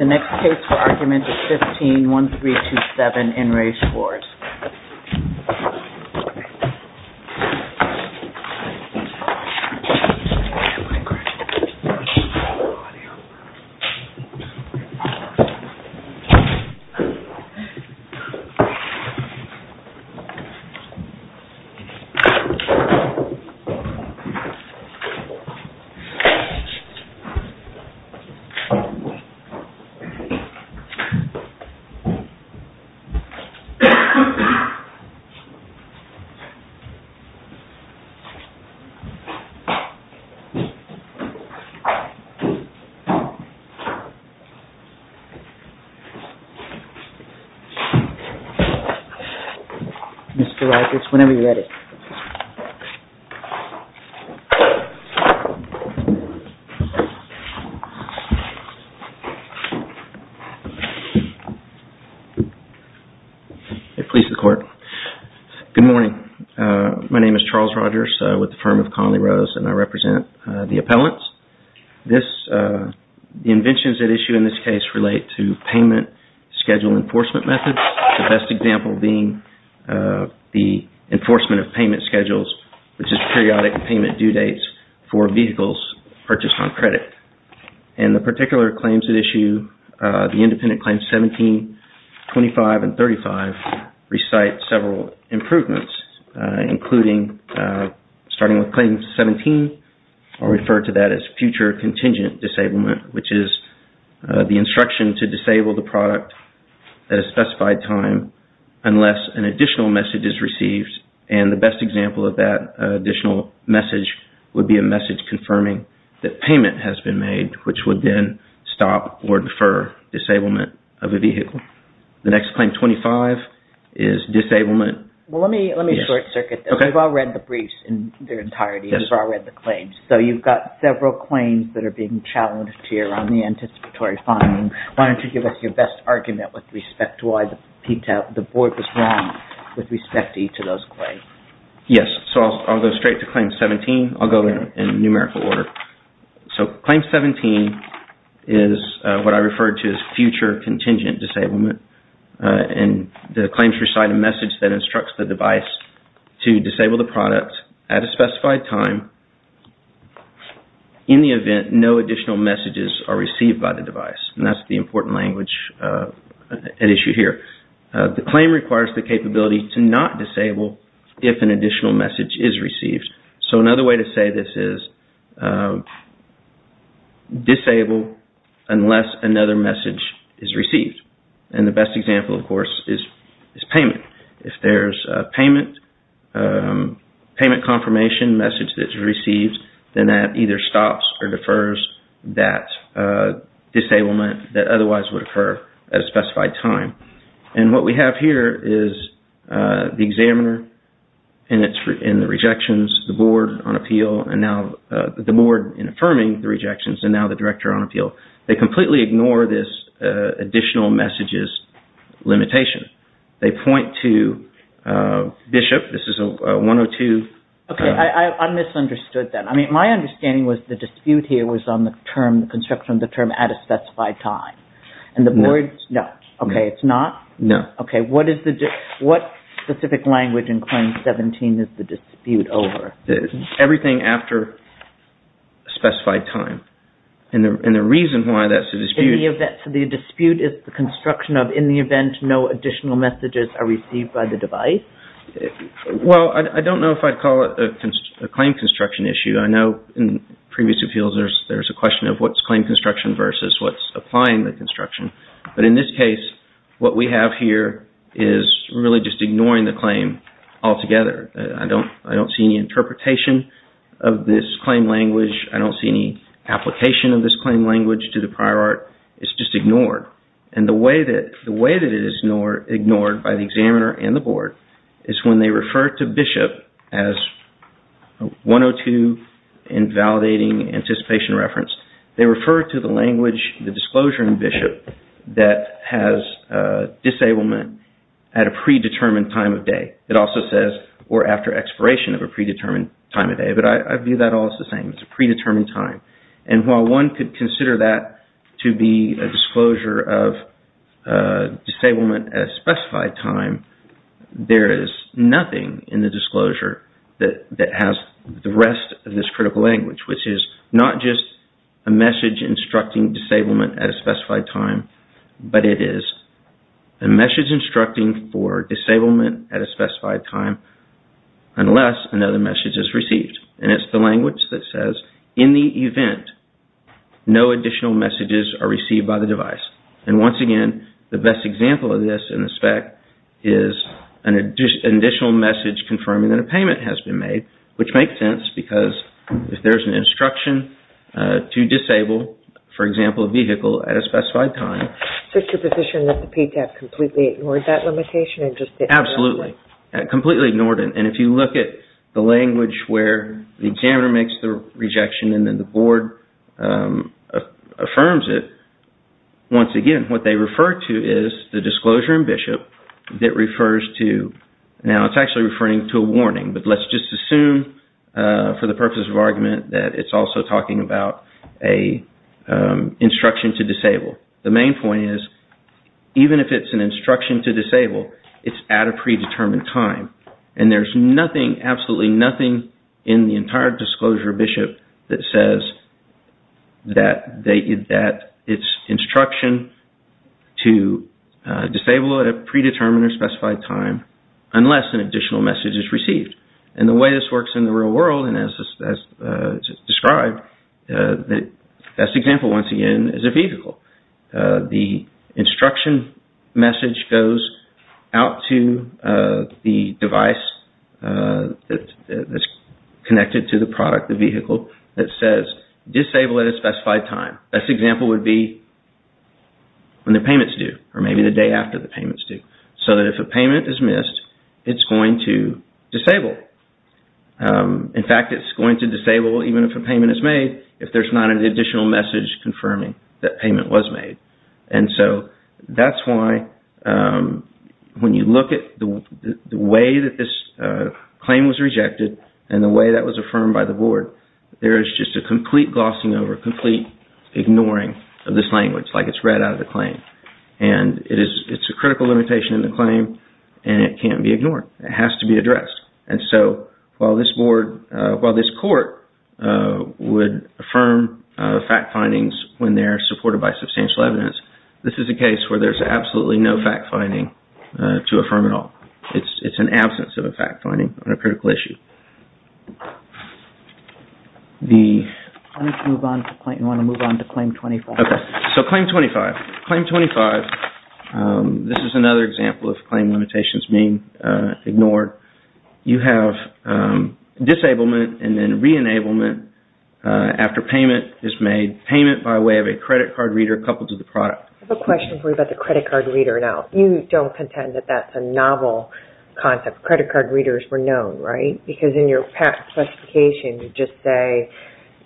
The next case for argument is 15-1327 in Re Schwarz. Mr. Reicherts, whenever you're ready. Please the court. Good morning. My name is Charles Rogers with the firm of Conley Rose, and I represent the appellants. The inventions at issue in this case relate to payment schedule enforcement methods, the best example being the enforcement of payment schedules, which is periodic payment due dates for vehicles purchased on credit. And the particular claims at issue, the independent claims 17, 25, and 35, recite several improvements, including starting with claim 17, I'll refer to that as future contingent disablement, which is the instruction to disable the product at a specified time unless an additional message is received. And the best example of that additional message would be a message confirming that payment has been made, which would then stop or defer disablement of a vehicle. The next claim, 25, is disablement. Well, let me short-circuit this. We've all read the briefs in their entirety, and we've all read the claims. So you've got several claims that are being challenged here on the anticipatory finding. Why don't you give us your best argument with respect to why the board was wrong with respect to each of those claims? Yes, so I'll go straight to claim 17. I'll go in numerical order. So claim 17 is what I refer to as future contingent disablement, and the claims recite a message that instructs the device to disable the product at a specified time in the event no additional messages are received by the device, and that's the important language at issue here. The claim requires the capability to not disable if an additional message is received. So another way to say this is disable unless another message is received. And the best example, of course, is payment. If there's a payment confirmation message that's received, then that either stops or defers that disablement that otherwise would occur at a specified time. And what we have here is the examiner in the rejections, the board on appeal, and now the board in affirming the rejections, and now the director on appeal. They completely ignore this additional messages limitation. They point to Bishop. This is a 102. Okay, I misunderstood that. I mean, my understanding was the dispute here was on the construction of the term at a specified time. No. Okay, it's not? No. Okay, what specific language in claim 17 is the dispute over? Everything after a specified time, and the reason why that's a dispute... ...is the construction of in the event no additional messages are received by the device? Well, I don't know if I'd call it a claim construction issue. I know in previous appeals there's a question of what's claim construction versus what's applying the construction. But in this case, what we have here is really just ignoring the claim altogether. I don't see any interpretation of this claim language. I don't see any application of this claim language to the prior art. It's just ignored. And the way that it is ignored by the examiner and the board is when they refer to Bishop as 102 in validating anticipation reference. They refer to the language, the disclosure in Bishop, that has disablement at a predetermined time of day. It also says, or after expiration of a predetermined time of day. But I view that all as the same. It's a predetermined time. And while one could consider that to be a disclosure of disablement at a specified time... ...there is nothing in the disclosure that has the rest of this critical language... ...which is not just a message instructing disablement at a specified time... ...but it is a message instructing for disablement at a specified time unless another message is received. And it's the language that says in the event no additional messages are received by the device. And once again, the best example of this in the spec is an additional message confirming that a payment has been made. Which makes sense because if there's an instruction to disable, for example, a vehicle at a specified time... ...is there a position that the PTAP completely ignored that limitation? Absolutely. Completely ignored it. And if you look at the language where the examiner makes the rejection and then the board affirms it... ...once again, what they refer to is the disclosure in Bishop that refers to... ...now it's actually referring to a warning, but let's just assume for the purpose of argument... ...that it's also talking about an instruction to disable. The main point is, even if it's an instruction to disable, it's at a predetermined time. And there's nothing, absolutely nothing in the entire disclosure of Bishop that says... ...that it's instruction to disable at a predetermined or specified time unless an additional message is received. And the way this works in the real world, and as described, the best example once again is a vehicle. The instruction message goes out to the device that's connected to the product, the vehicle, that says... ...disable at a specified time. Best example would be when the payment's due, or maybe the day after the payment's due. So that if a payment is missed, it's going to disable. In fact, it's going to disable even if a payment is made if there's not an additional message confirming that payment was made. And so that's why when you look at the way that this claim was rejected and the way that was affirmed by the board... ...there is just a complete glossing over, complete ignoring of this language, like it's read out of the claim. And it's a critical limitation in the claim, and it can't be ignored. It has to be addressed. And so while this board, while this court would affirm fact findings when they're supported by substantial evidence... ...this is a case where there's absolutely no fact finding to affirm at all. It's an absence of a fact finding on a critical issue. I want to move on to claim 25. Okay. So claim 25. Claim 25. This is another example of claim limitations being ignored. You have disablement and then re-enablement after payment is made. Payment by way of a credit card reader coupled to the product. I have a question for you about the credit card reader. Now, you don't contend that that's a novel concept. Credit card readers were known, right? Because in your patent classification, you just say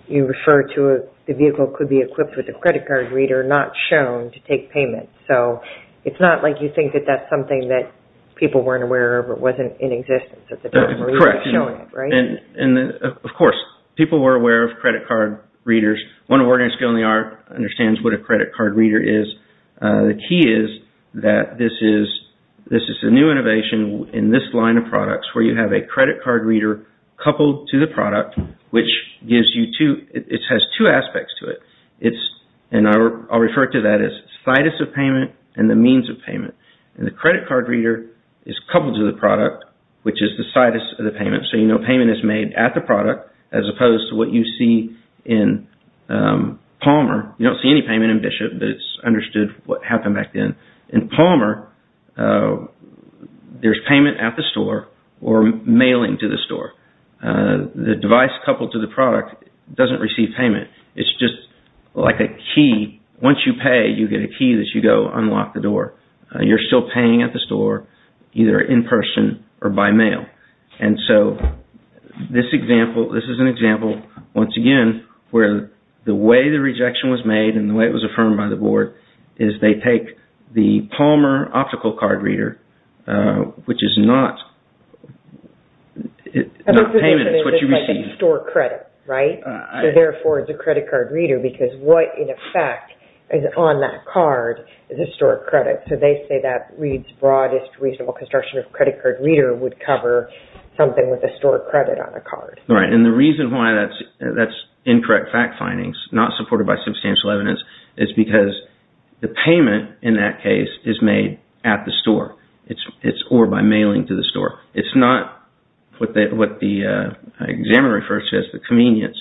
you refer to a vehicle that could be equipped with a credit card reader not shown to take payment. So it's not like you think that that's something that people weren't aware of or wasn't in existence at the time where you were showing it, right? Correct. And of course, people were aware of credit card readers. One of our organizations understands what a credit card reader is. The key is that this is a new innovation in this line of products where you have a credit card reader coupled to the product, which has two aspects to it. And I'll refer to that as situs of payment and the means of payment. And the credit card reader is coupled to the product, which is the situs of the payment. So you know payment is made at the product as opposed to what you see in Palmer. You don't see any payment in Bishop, but it's understood what happened back then. In Palmer, there's payment at the store or mailing to the store. The device coupled to the product doesn't receive payment. It's just like a key. Once you pay, you get a key that you go unlock the door. You're still paying at the store either in person or by mail. And so this is an example, once again, where the way the rejection was made and the way it was affirmed by the board is they take the Palmer optical card reader, which is not payment. It's what you receive. It's like a store credit, right? So therefore, it's a credit card reader because what in effect is on that card is a store credit. So they say that reads broadest reasonable construction of credit card reader would cover something with a store credit on a card. Right. And the reason why that's incorrect fact findings, not supported by substantial evidence, is because the payment in that case is made at the store or by mailing to the store. It's not what the examiner refers to as the convenience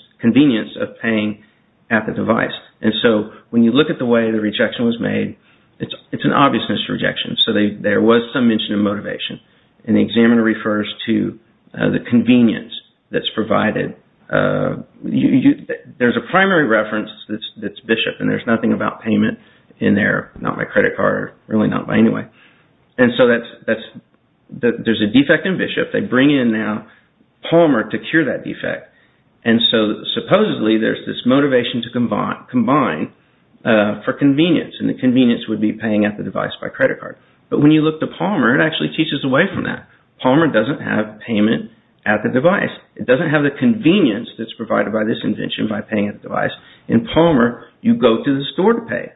of paying at the device. And so when you look at the way the rejection was made, it's an obvious misrejection. So there was some mention of motivation. And the examiner refers to the convenience that's provided. There's a primary reference that's Bishop and there's nothing about payment in there, not my credit card, really not by any way. And so there's a defect in Bishop. They bring in now Palmer to cure that defect. And so supposedly there's this motivation to combine for convenience and the convenience would be paying at the device by credit card. But when you look to Palmer, it actually teaches away from that. Palmer doesn't have payment at the device. It doesn't have the convenience that's provided by this invention by paying at the device. In Palmer, you go to the store to pay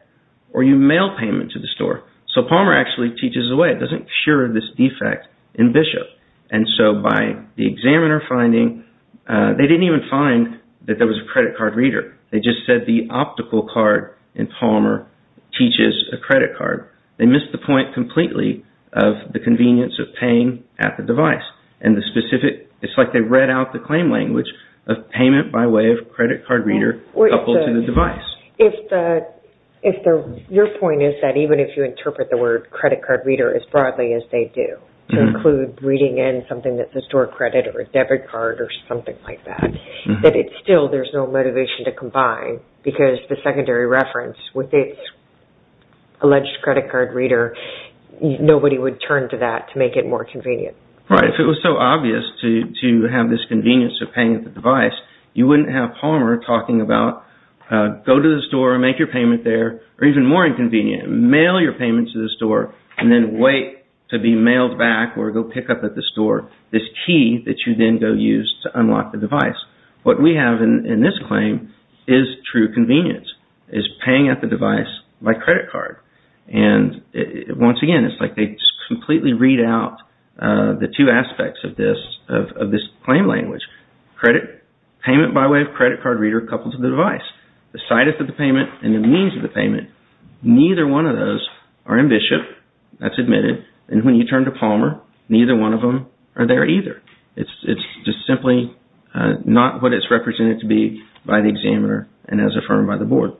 or you mail payment to the store. So Palmer actually teaches away. It doesn't cure this defect in Bishop. And so by the examiner finding, they didn't even find that there was a credit card reader. They just said the optical card in Palmer teaches a credit card. They missed the point completely of the convenience of paying at the device. And the specific – it's like they read out the claim language of payment by way of credit card reader coupled to the device. Your point is that even if you interpret the word credit card reader as broadly as they do, to include reading in something that's a store credit or a debit card or something like that, that still there's no motivation to combine because the secondary reference with its alleged credit card reader, nobody would turn to that to make it more convenient. Right. If it was so obvious to have this convenience of paying at the device, you wouldn't have Palmer talking about go to the store and make your payment there. Or even more inconvenient, mail your payment to the store and then wait to be mailed back or go pick up at the store this key that you then go use to unlock the device. What we have in this claim is true convenience, is paying at the device by credit card. And once again, it's like they completely read out the two aspects of this claim language, credit – payment by way of credit card reader coupled to the device. The situs of the payment and the means of the payment, neither one of those are in Bishop. That's admitted. And when you turn to Palmer, neither one of them are there either. It's just simply not what it's represented to be by the examiner and as affirmed by the board.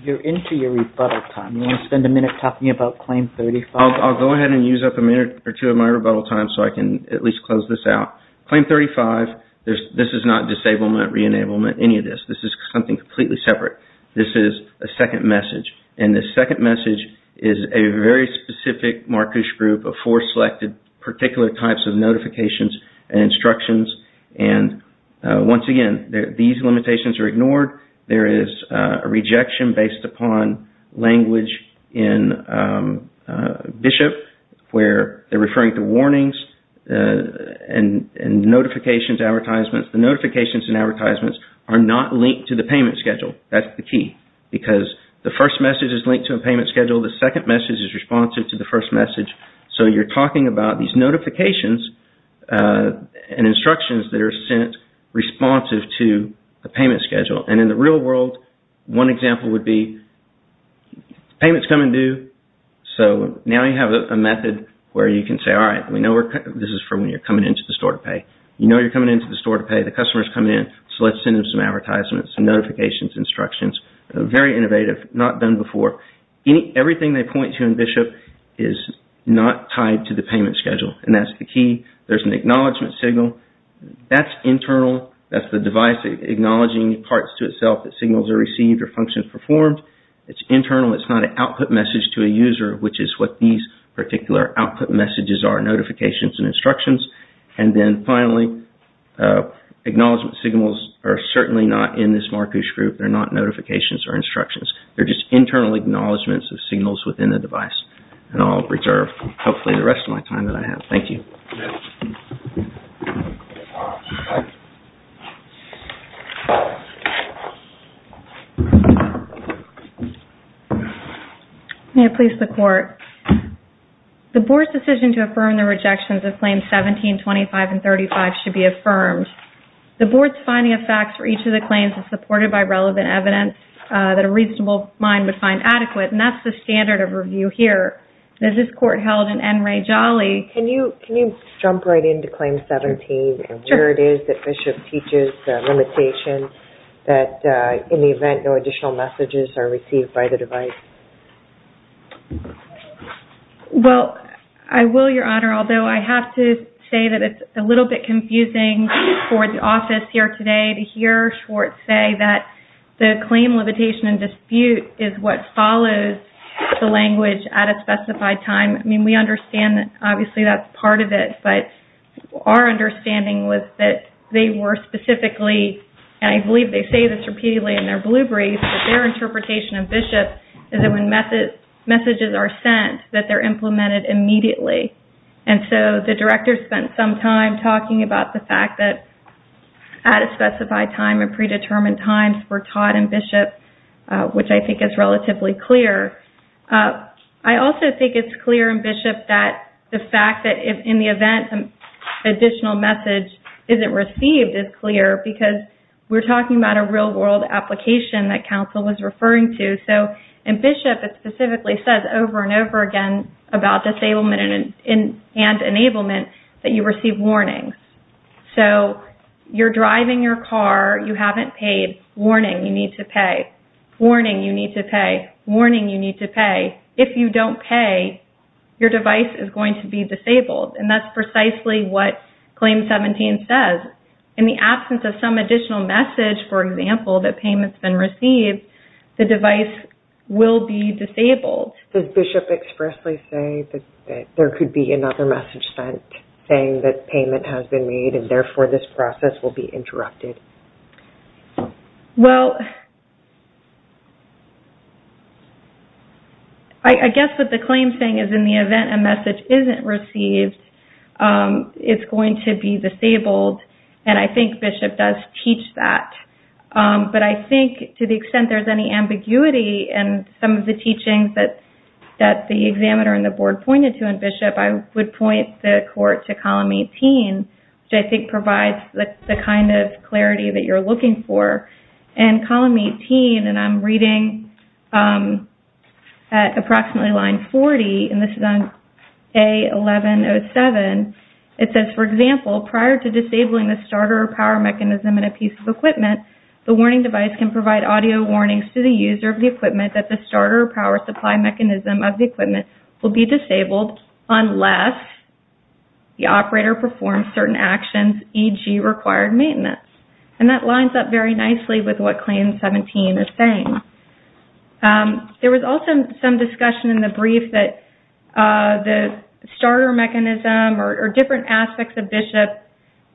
You're into your rebuttal time. Do you want to spend a minute talking about Claim 35? I'll go ahead and use up a minute or two of my rebuttal time so I can at least close this out. Claim 35, this is not disablement, re-enablement, any of this. This is something completely separate. This is a second message. And the second message is a very specific marquish group of four selected particular types of notifications and instructions. And once again, these limitations are ignored. There is a rejection based upon language in Bishop where they're referring to warnings and notifications, advertisements. The notifications and advertisements are not linked to the payment schedule. That's the key because the first message is linked to a payment schedule. The second message is responsive to the first message. So you're talking about these notifications and instructions that are sent responsive to a payment schedule. And in the real world, one example would be payments come in due. So now you have a method where you can say, all right, this is for when you're coming into the store to pay. You know you're coming into the store to pay. The customer is coming in. So let's send them some advertisements, some notifications, instructions. Very innovative. Not done before. Everything they point to in Bishop is not tied to the payment schedule. And that's the key. There's an acknowledgement signal. That's internal. That's the device acknowledging parts to itself that signals are received or functions performed. It's internal. It's not an output message to a user, which is what these particular output messages are, notifications and instructions. And then finally, acknowledgement signals are certainly not in this Markush group. They're not notifications or instructions. They're just internal acknowledgments of signals within the device. And I'll preserve hopefully the rest of my time that I have. Thank you. May I please the Court? The Board's decision to affirm the rejections of Claims 17, 25, and 35 should be affirmed. The Board's finding of facts for each of the claims is supported by relevant evidence that a reasonable mind would find adequate. And that's the standard of review here. As this Court held in N. Ray Jolly. Can you jump right into Claim 17 and where it is that Bishop teaches the limitation that in the event no additional messages are received, by the device? Well, I will, Your Honor. Although I have to say that it's a little bit confusing for the office here today to hear Schwartz say that the claim, limitation, and dispute is what follows the language at a specified time. I mean, we understand that obviously that's part of it. But our understanding was that they were specifically, and I believe they say this repeatedly in their blue brief, that their interpretation of Bishop is that when messages are sent, that they're implemented immediately. And so the Director spent some time talking about the fact that at a specified time and predetermined times were taught in Bishop, which I think is relatively clear. I also think it's clear in Bishop that the fact that in the event an additional message isn't received is clear because we're talking about a real-world application that counsel was referring to. So in Bishop, it specifically says over and over again about disablement and enablement that you receive warnings. So you're driving your car. You haven't paid. Warning. You need to pay. Warning. You need to pay. Warning. You need to pay. If you don't pay, your device is going to be disabled. And that's precisely what Claim 17 says. In the absence of some additional message, for example, that payment's been received, the device will be disabled. Does Bishop expressly say that there could be another message sent saying that payment has been made and therefore this process will be interrupted? Well, I guess what the claim's saying is in the event a message isn't received, it's going to be disabled. And I think Bishop does teach that. But I think to the extent there's any ambiguity in some of the teachings that the examiner and the board pointed to in Bishop, I would point the court to Column 18, which I think provides the kind of clarity that you're looking for. And Column 18, and I'm reading at approximately line 40, and this is on A1107, it says, for example, prior to disabling the starter power mechanism in a piece of equipment, the warning device can provide audio warnings to the user of the equipment that the starter power supply mechanism of the equipment will be disabled unless the operator performs certain actions, e.g., required maintenance. And that lines up very nicely with what Claim 17 is saying. There was also some discussion in the brief that the starter mechanism or different aspects of Bishop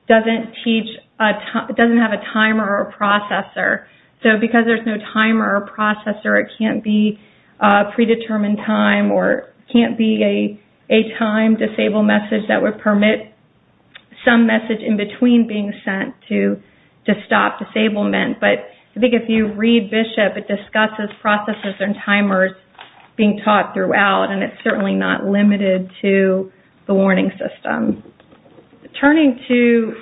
doesn't teach, So, because there's no timer or processor, it can't be predetermined time or can't be a time-disabled message that would permit some message in between being sent to stop disablement. But I think if you read Bishop, it discusses processes and timers being taught throughout, and it's certainly not limited to the warning system. Turning to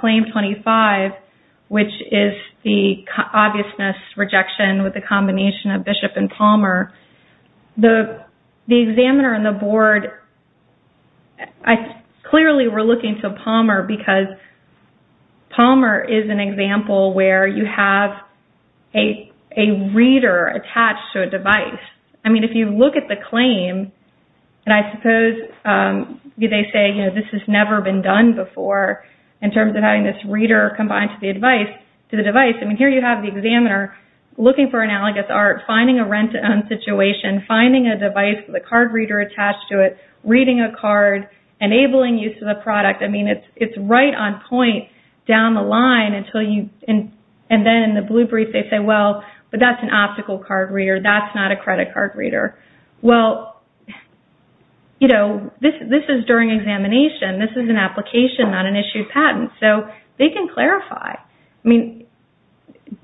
Claim 25, which is the obviousness rejection with the combination of Bishop and Palmer, the examiner and the board clearly were looking to Palmer because Palmer is an example where you have a reader attached to a device. I mean, if you look at the claim, and I suppose they say, you know, this has never been done before in terms of having this reader combined to the device. I mean, here you have the examiner looking for analogous art, finding a rent-to-own situation, finding a device with a card reader attached to it, reading a card, enabling use of the product. I mean, it's right on point down the line. And then in the blue brief, they say, well, but that's an optical card reader. That's not a credit card reader. Well, you know, this is during examination. This is an application, not an issued patent. So they can clarify. I mean,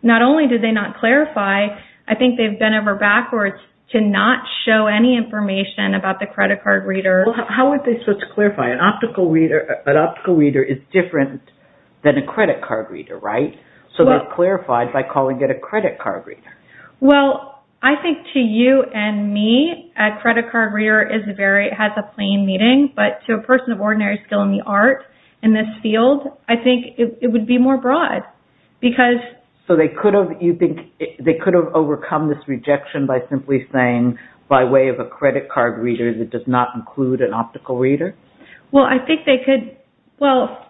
not only did they not clarify, I think they've been ever backwards to not show any information about the credit card reader. How are they supposed to clarify? An optical reader is different than a credit card reader, right? So they clarified by calling it a credit card reader. Well, I think to you and me, a credit card reader has a plain meaning. But to a person of ordinary skill in the art, in this field, I think it would be more broad. So they could have, you think, they could have overcome this rejection by simply saying, by way of a credit card reader that does not include an optical reader? Well, I think they could. Well,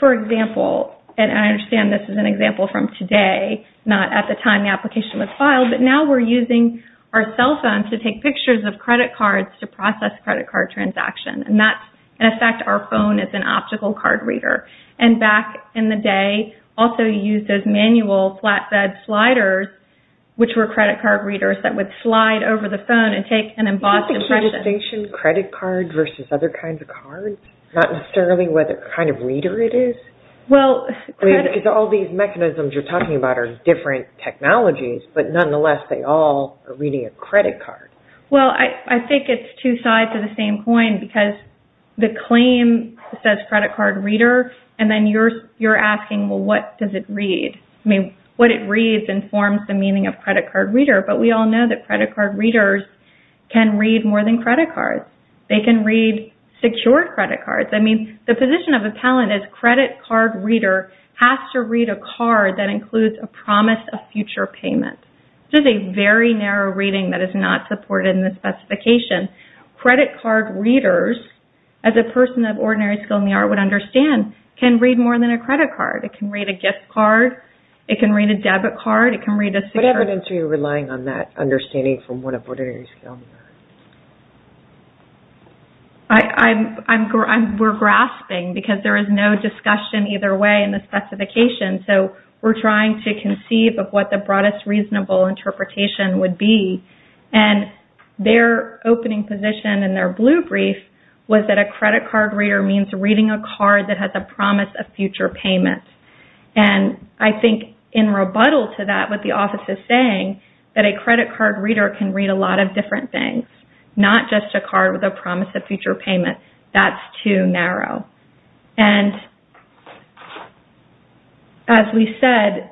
for example, and I understand this is an example from today, not at the time the application was filed, but now we're using our cell phones to take pictures of credit cards to process credit card transactions. And that's, in effect, our phone is an optical card reader. And back in the day, also used as manual flatbed sliders, which were credit card readers that would slide over the phone and take an embossed impression. Is the key distinction credit card versus other kinds of cards? Not necessarily what kind of reader it is? Well, credit... Because all these mechanisms you're talking about are different technologies, but nonetheless, they all are reading a credit card. Well, I think it's two sides of the same coin, because the claim says credit card reader, and then you're asking, well, what does it read? I mean, what it reads informs the meaning of credit card reader, but we all know that credit card readers can read more than credit cards. They can read secure credit cards. I mean, the position of a talent is credit card reader has to read a card that includes a promise of future payment. This is a very narrow reading that is not supported in the specification. Credit card readers, as a person of ordinary skill in the art would understand, can read more than a credit card. It can read a gift card. It can read a debit card. It can read a secure... What evidence are you relying on that understanding from one of ordinary skill in the art? I'm... We're grasping, because there is no discussion either way in the specification. So, we're trying to conceive of what the broadest reasonable interpretation would be, and their opening position in their blue brief was that a credit card reader means reading a card that has a promise of future payment. And I think in rebuttal to that, what the office is saying, that a credit card reader can read a lot of different things, not just a card with a promise of future payment. That's too narrow. And, as we said,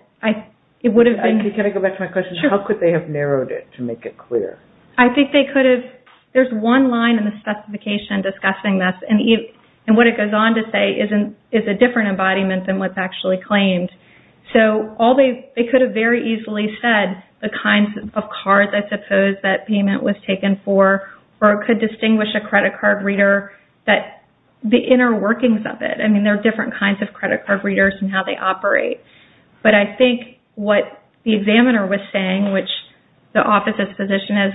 it would have been... Can I go back to my question? Sure. How could they have narrowed it to make it clear? I think they could have... There's one line in the specification discussing this, and what it goes on to say is a different embodiment than what's actually claimed. So, they could have very easily said the kinds of cards, I suppose, that payment was taken for, or could distinguish a credit card reader, the inner workings of it. I mean, there are different kinds of credit card readers and how they operate. But I think what the examiner was saying, which the office's position is,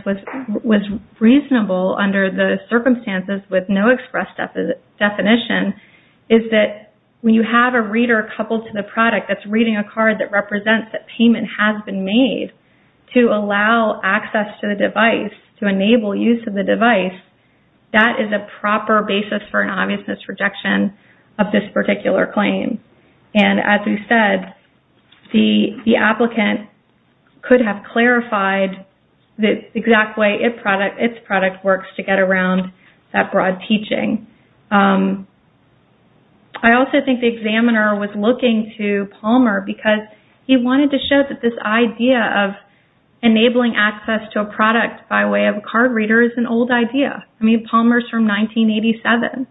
was reasonable under the circumstances with no express definition, is that when you have a reader coupled to the product that's reading a card that represents that payment has been made, to allow access to the device, to enable use of the device, that is a proper basis for an obvious misrejection of this particular claim. And, as we said, the applicant could have clarified the exact way its product works to get around that broad teaching. I also think the examiner was looking to Palmer because he wanted to show that this idea of enabling access to a product by way of a card reader is an old idea. I mean, Palmer's from 1987,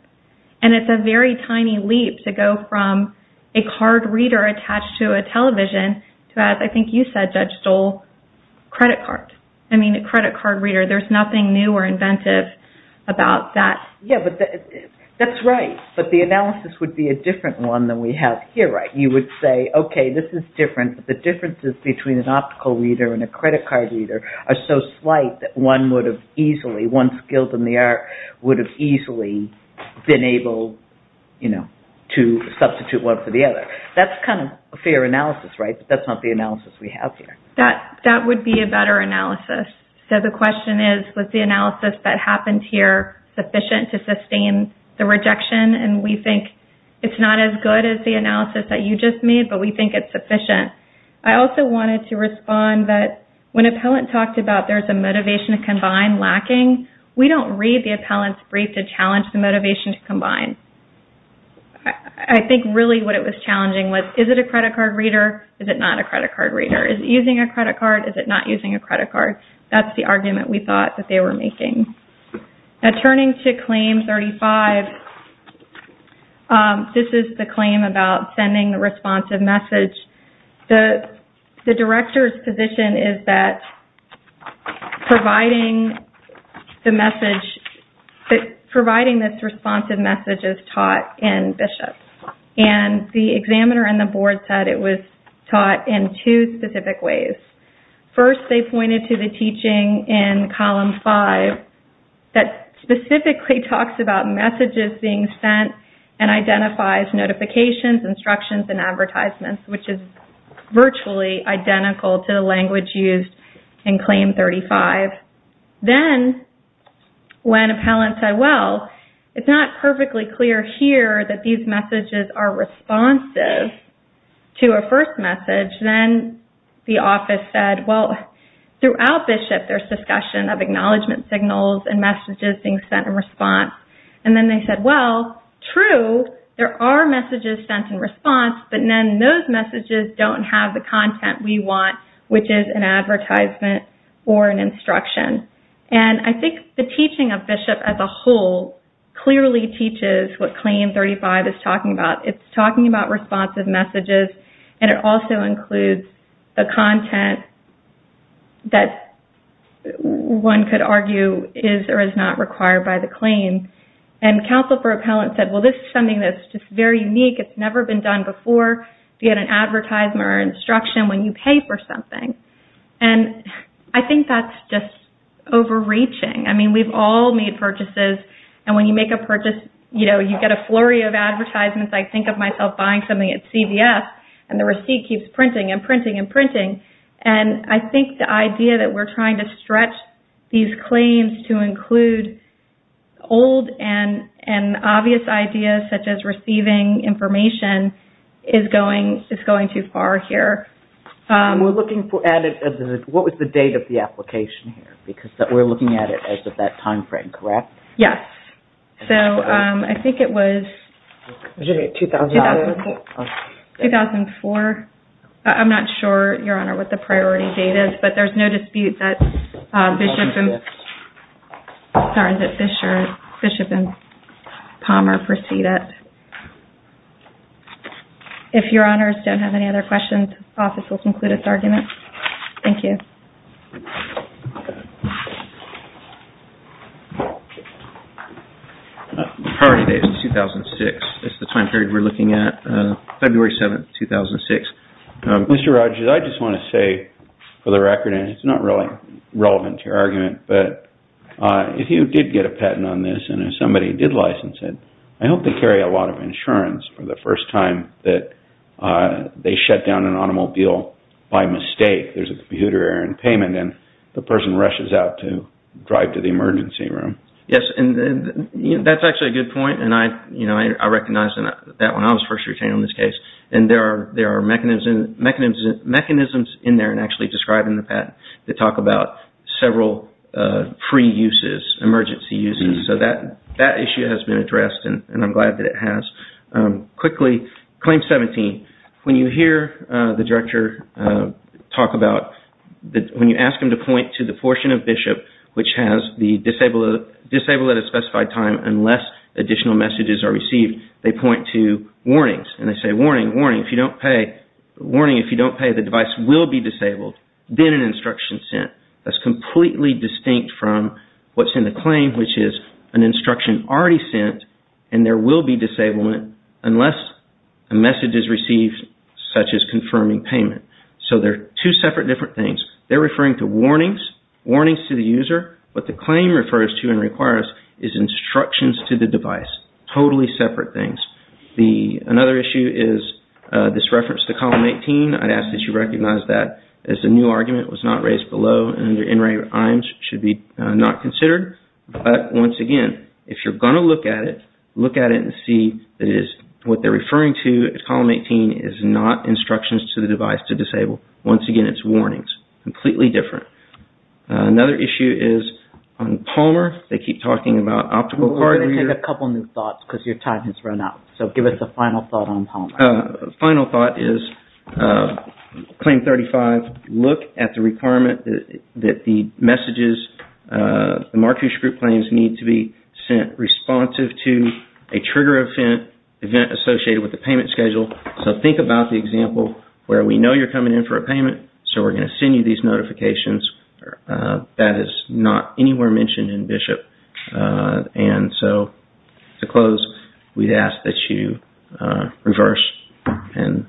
and it's a very tiny leap to go from a card reader attached to a television to, as I think you said, Judge Stoll, credit cards. I mean, a credit card reader, there's nothing new or inventive about that. Yeah, but that's right. But the analysis would be a different one than we have here. You would say, okay, this is different. The differences between an optical reader and a credit card reader are so slight that one would have easily, one skilled in the art would have easily been able to substitute one for the other. That's kind of a fair analysis, right? But that's not the analysis we have here. That would be a better analysis. So the question is, was the analysis that happened here sufficient to sustain the rejection? And we think it's not as good as the analysis that you just made, but we think it's sufficient. I also wanted to respond that when appellant talked about there's a motivation to combine lacking, we don't read the appellant's brief to challenge the motivation to combine. I think really what it was challenging was, is it a credit card reader? Is it not a credit card reader? Is it using a credit card? Is it not using a credit card? That's the argument we thought that they were making. Turning to claim 35, this is the claim about sending the responsive message. The director's position is that providing the message, providing this responsive message is taught in BISHOP. And the examiner and the board said it was taught in two specific ways. First, they pointed to the teaching in column 5 that specifically talks about messages being sent and identifies notifications, instructions, and advertisements, which is virtually identical to the language used in claim 35. Then, when appellants said, well, it's not perfectly clear here that these messages are responsive to a first message, then the office said, well, throughout BISHOP there's discussion of acknowledgement signals and messages being sent in response. And then they said, well, true, there are messages sent in response, but then those messages don't have the content we want, which is an advertisement or an instruction. And I think the teaching of BISHOP as a whole clearly teaches what claim 35 is talking about. It's talking about responsive messages, and it also includes the content that one could argue is or is not required by the claim. And counsel for appellants said, well, this is something that's just very unique. It's never been done before. You get an advertisement or instruction when you pay for something. And I think that's just overreaching. I mean, we've all made purchases, and when you make a purchase, you know, you get a flurry of advertisements. I think of myself buying something at CVS, and the receipt keeps printing and printing and printing. And I think the idea that we're trying to stretch these claims to include old and obvious ideas, such as receiving information, is going too far here. We're looking at it as what was the date of the application here, because we're looking at it as of that timeframe, correct? Yes. So I think it was 2004. I'm not sure, Your Honor, what the priority date is, but there's no dispute that Bishop and Palmer proceed it. If Your Honors don't have any other questions, the office will conclude its argument. Thank you. The priority date is 2006. It's the time period we're looking at, February 7, 2006. Mr. Rogers, I just want to say, for the record, and it's not really relevant to your argument, but if you did get a patent on this and somebody did license it, I hope they carry a lot of insurance for the first time that they shut down an automobile by mistake. There's a computer error in payment, and the person rushes out to drive to the emergency room. Yes, and that's actually a good point, and I recognize that when I was first retained on this case. And there are mechanisms in there, and actually described in the patent, that talk about several pre-uses, emergency uses. So that issue has been addressed, and I'm glad that it has. Quickly, Claim 17. When you hear the director talk about, when you ask him to point to the portion of Bishop which has the disabled at a specified time, unless additional messages are received, they point to warnings. And they say, warning, warning, if you don't pay, the device will be disabled, then an instruction sent. That's completely distinct from what's in the claim, which is an instruction already sent, and there will be disablement unless a message is received such as confirming payment. So they're two separate different things. They're referring to warnings, warnings to the user. What the claim refers to and requires is instructions to the device. Totally separate things. Another issue is this reference to column 18. I'd ask that you recognize that as the new argument was not raised below, and under NRA IAMS should be not considered. But once again, if you're going to look at it, look at it and see that what they're referring to as column 18 is not instructions to the device to disable. Once again, it's warnings. Completely different. Another issue is on Palmer. They keep talking about optical card reader. We're going to take a couple new thoughts because your time has run out. So give us a final thought on Palmer. Final thought is claim 35. Look at the requirement that the messages, the Marquish Group claims need to be sent responsive to a trigger event associated with the payment schedule. So think about the example where we know you're coming in for a payment, so we're going to send you these notifications. That is not anywhere mentioned in BISHOP. And so to close, we'd ask that you reverse. And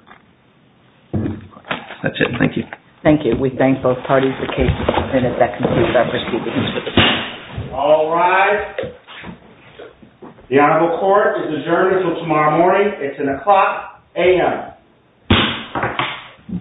that's it. Thank you. Thank you. We thank both parties. The case is submitted. That concludes our proceedings. All rise. The Honorable Court is adjourned until tomorrow morning. It's an o'clock a.m.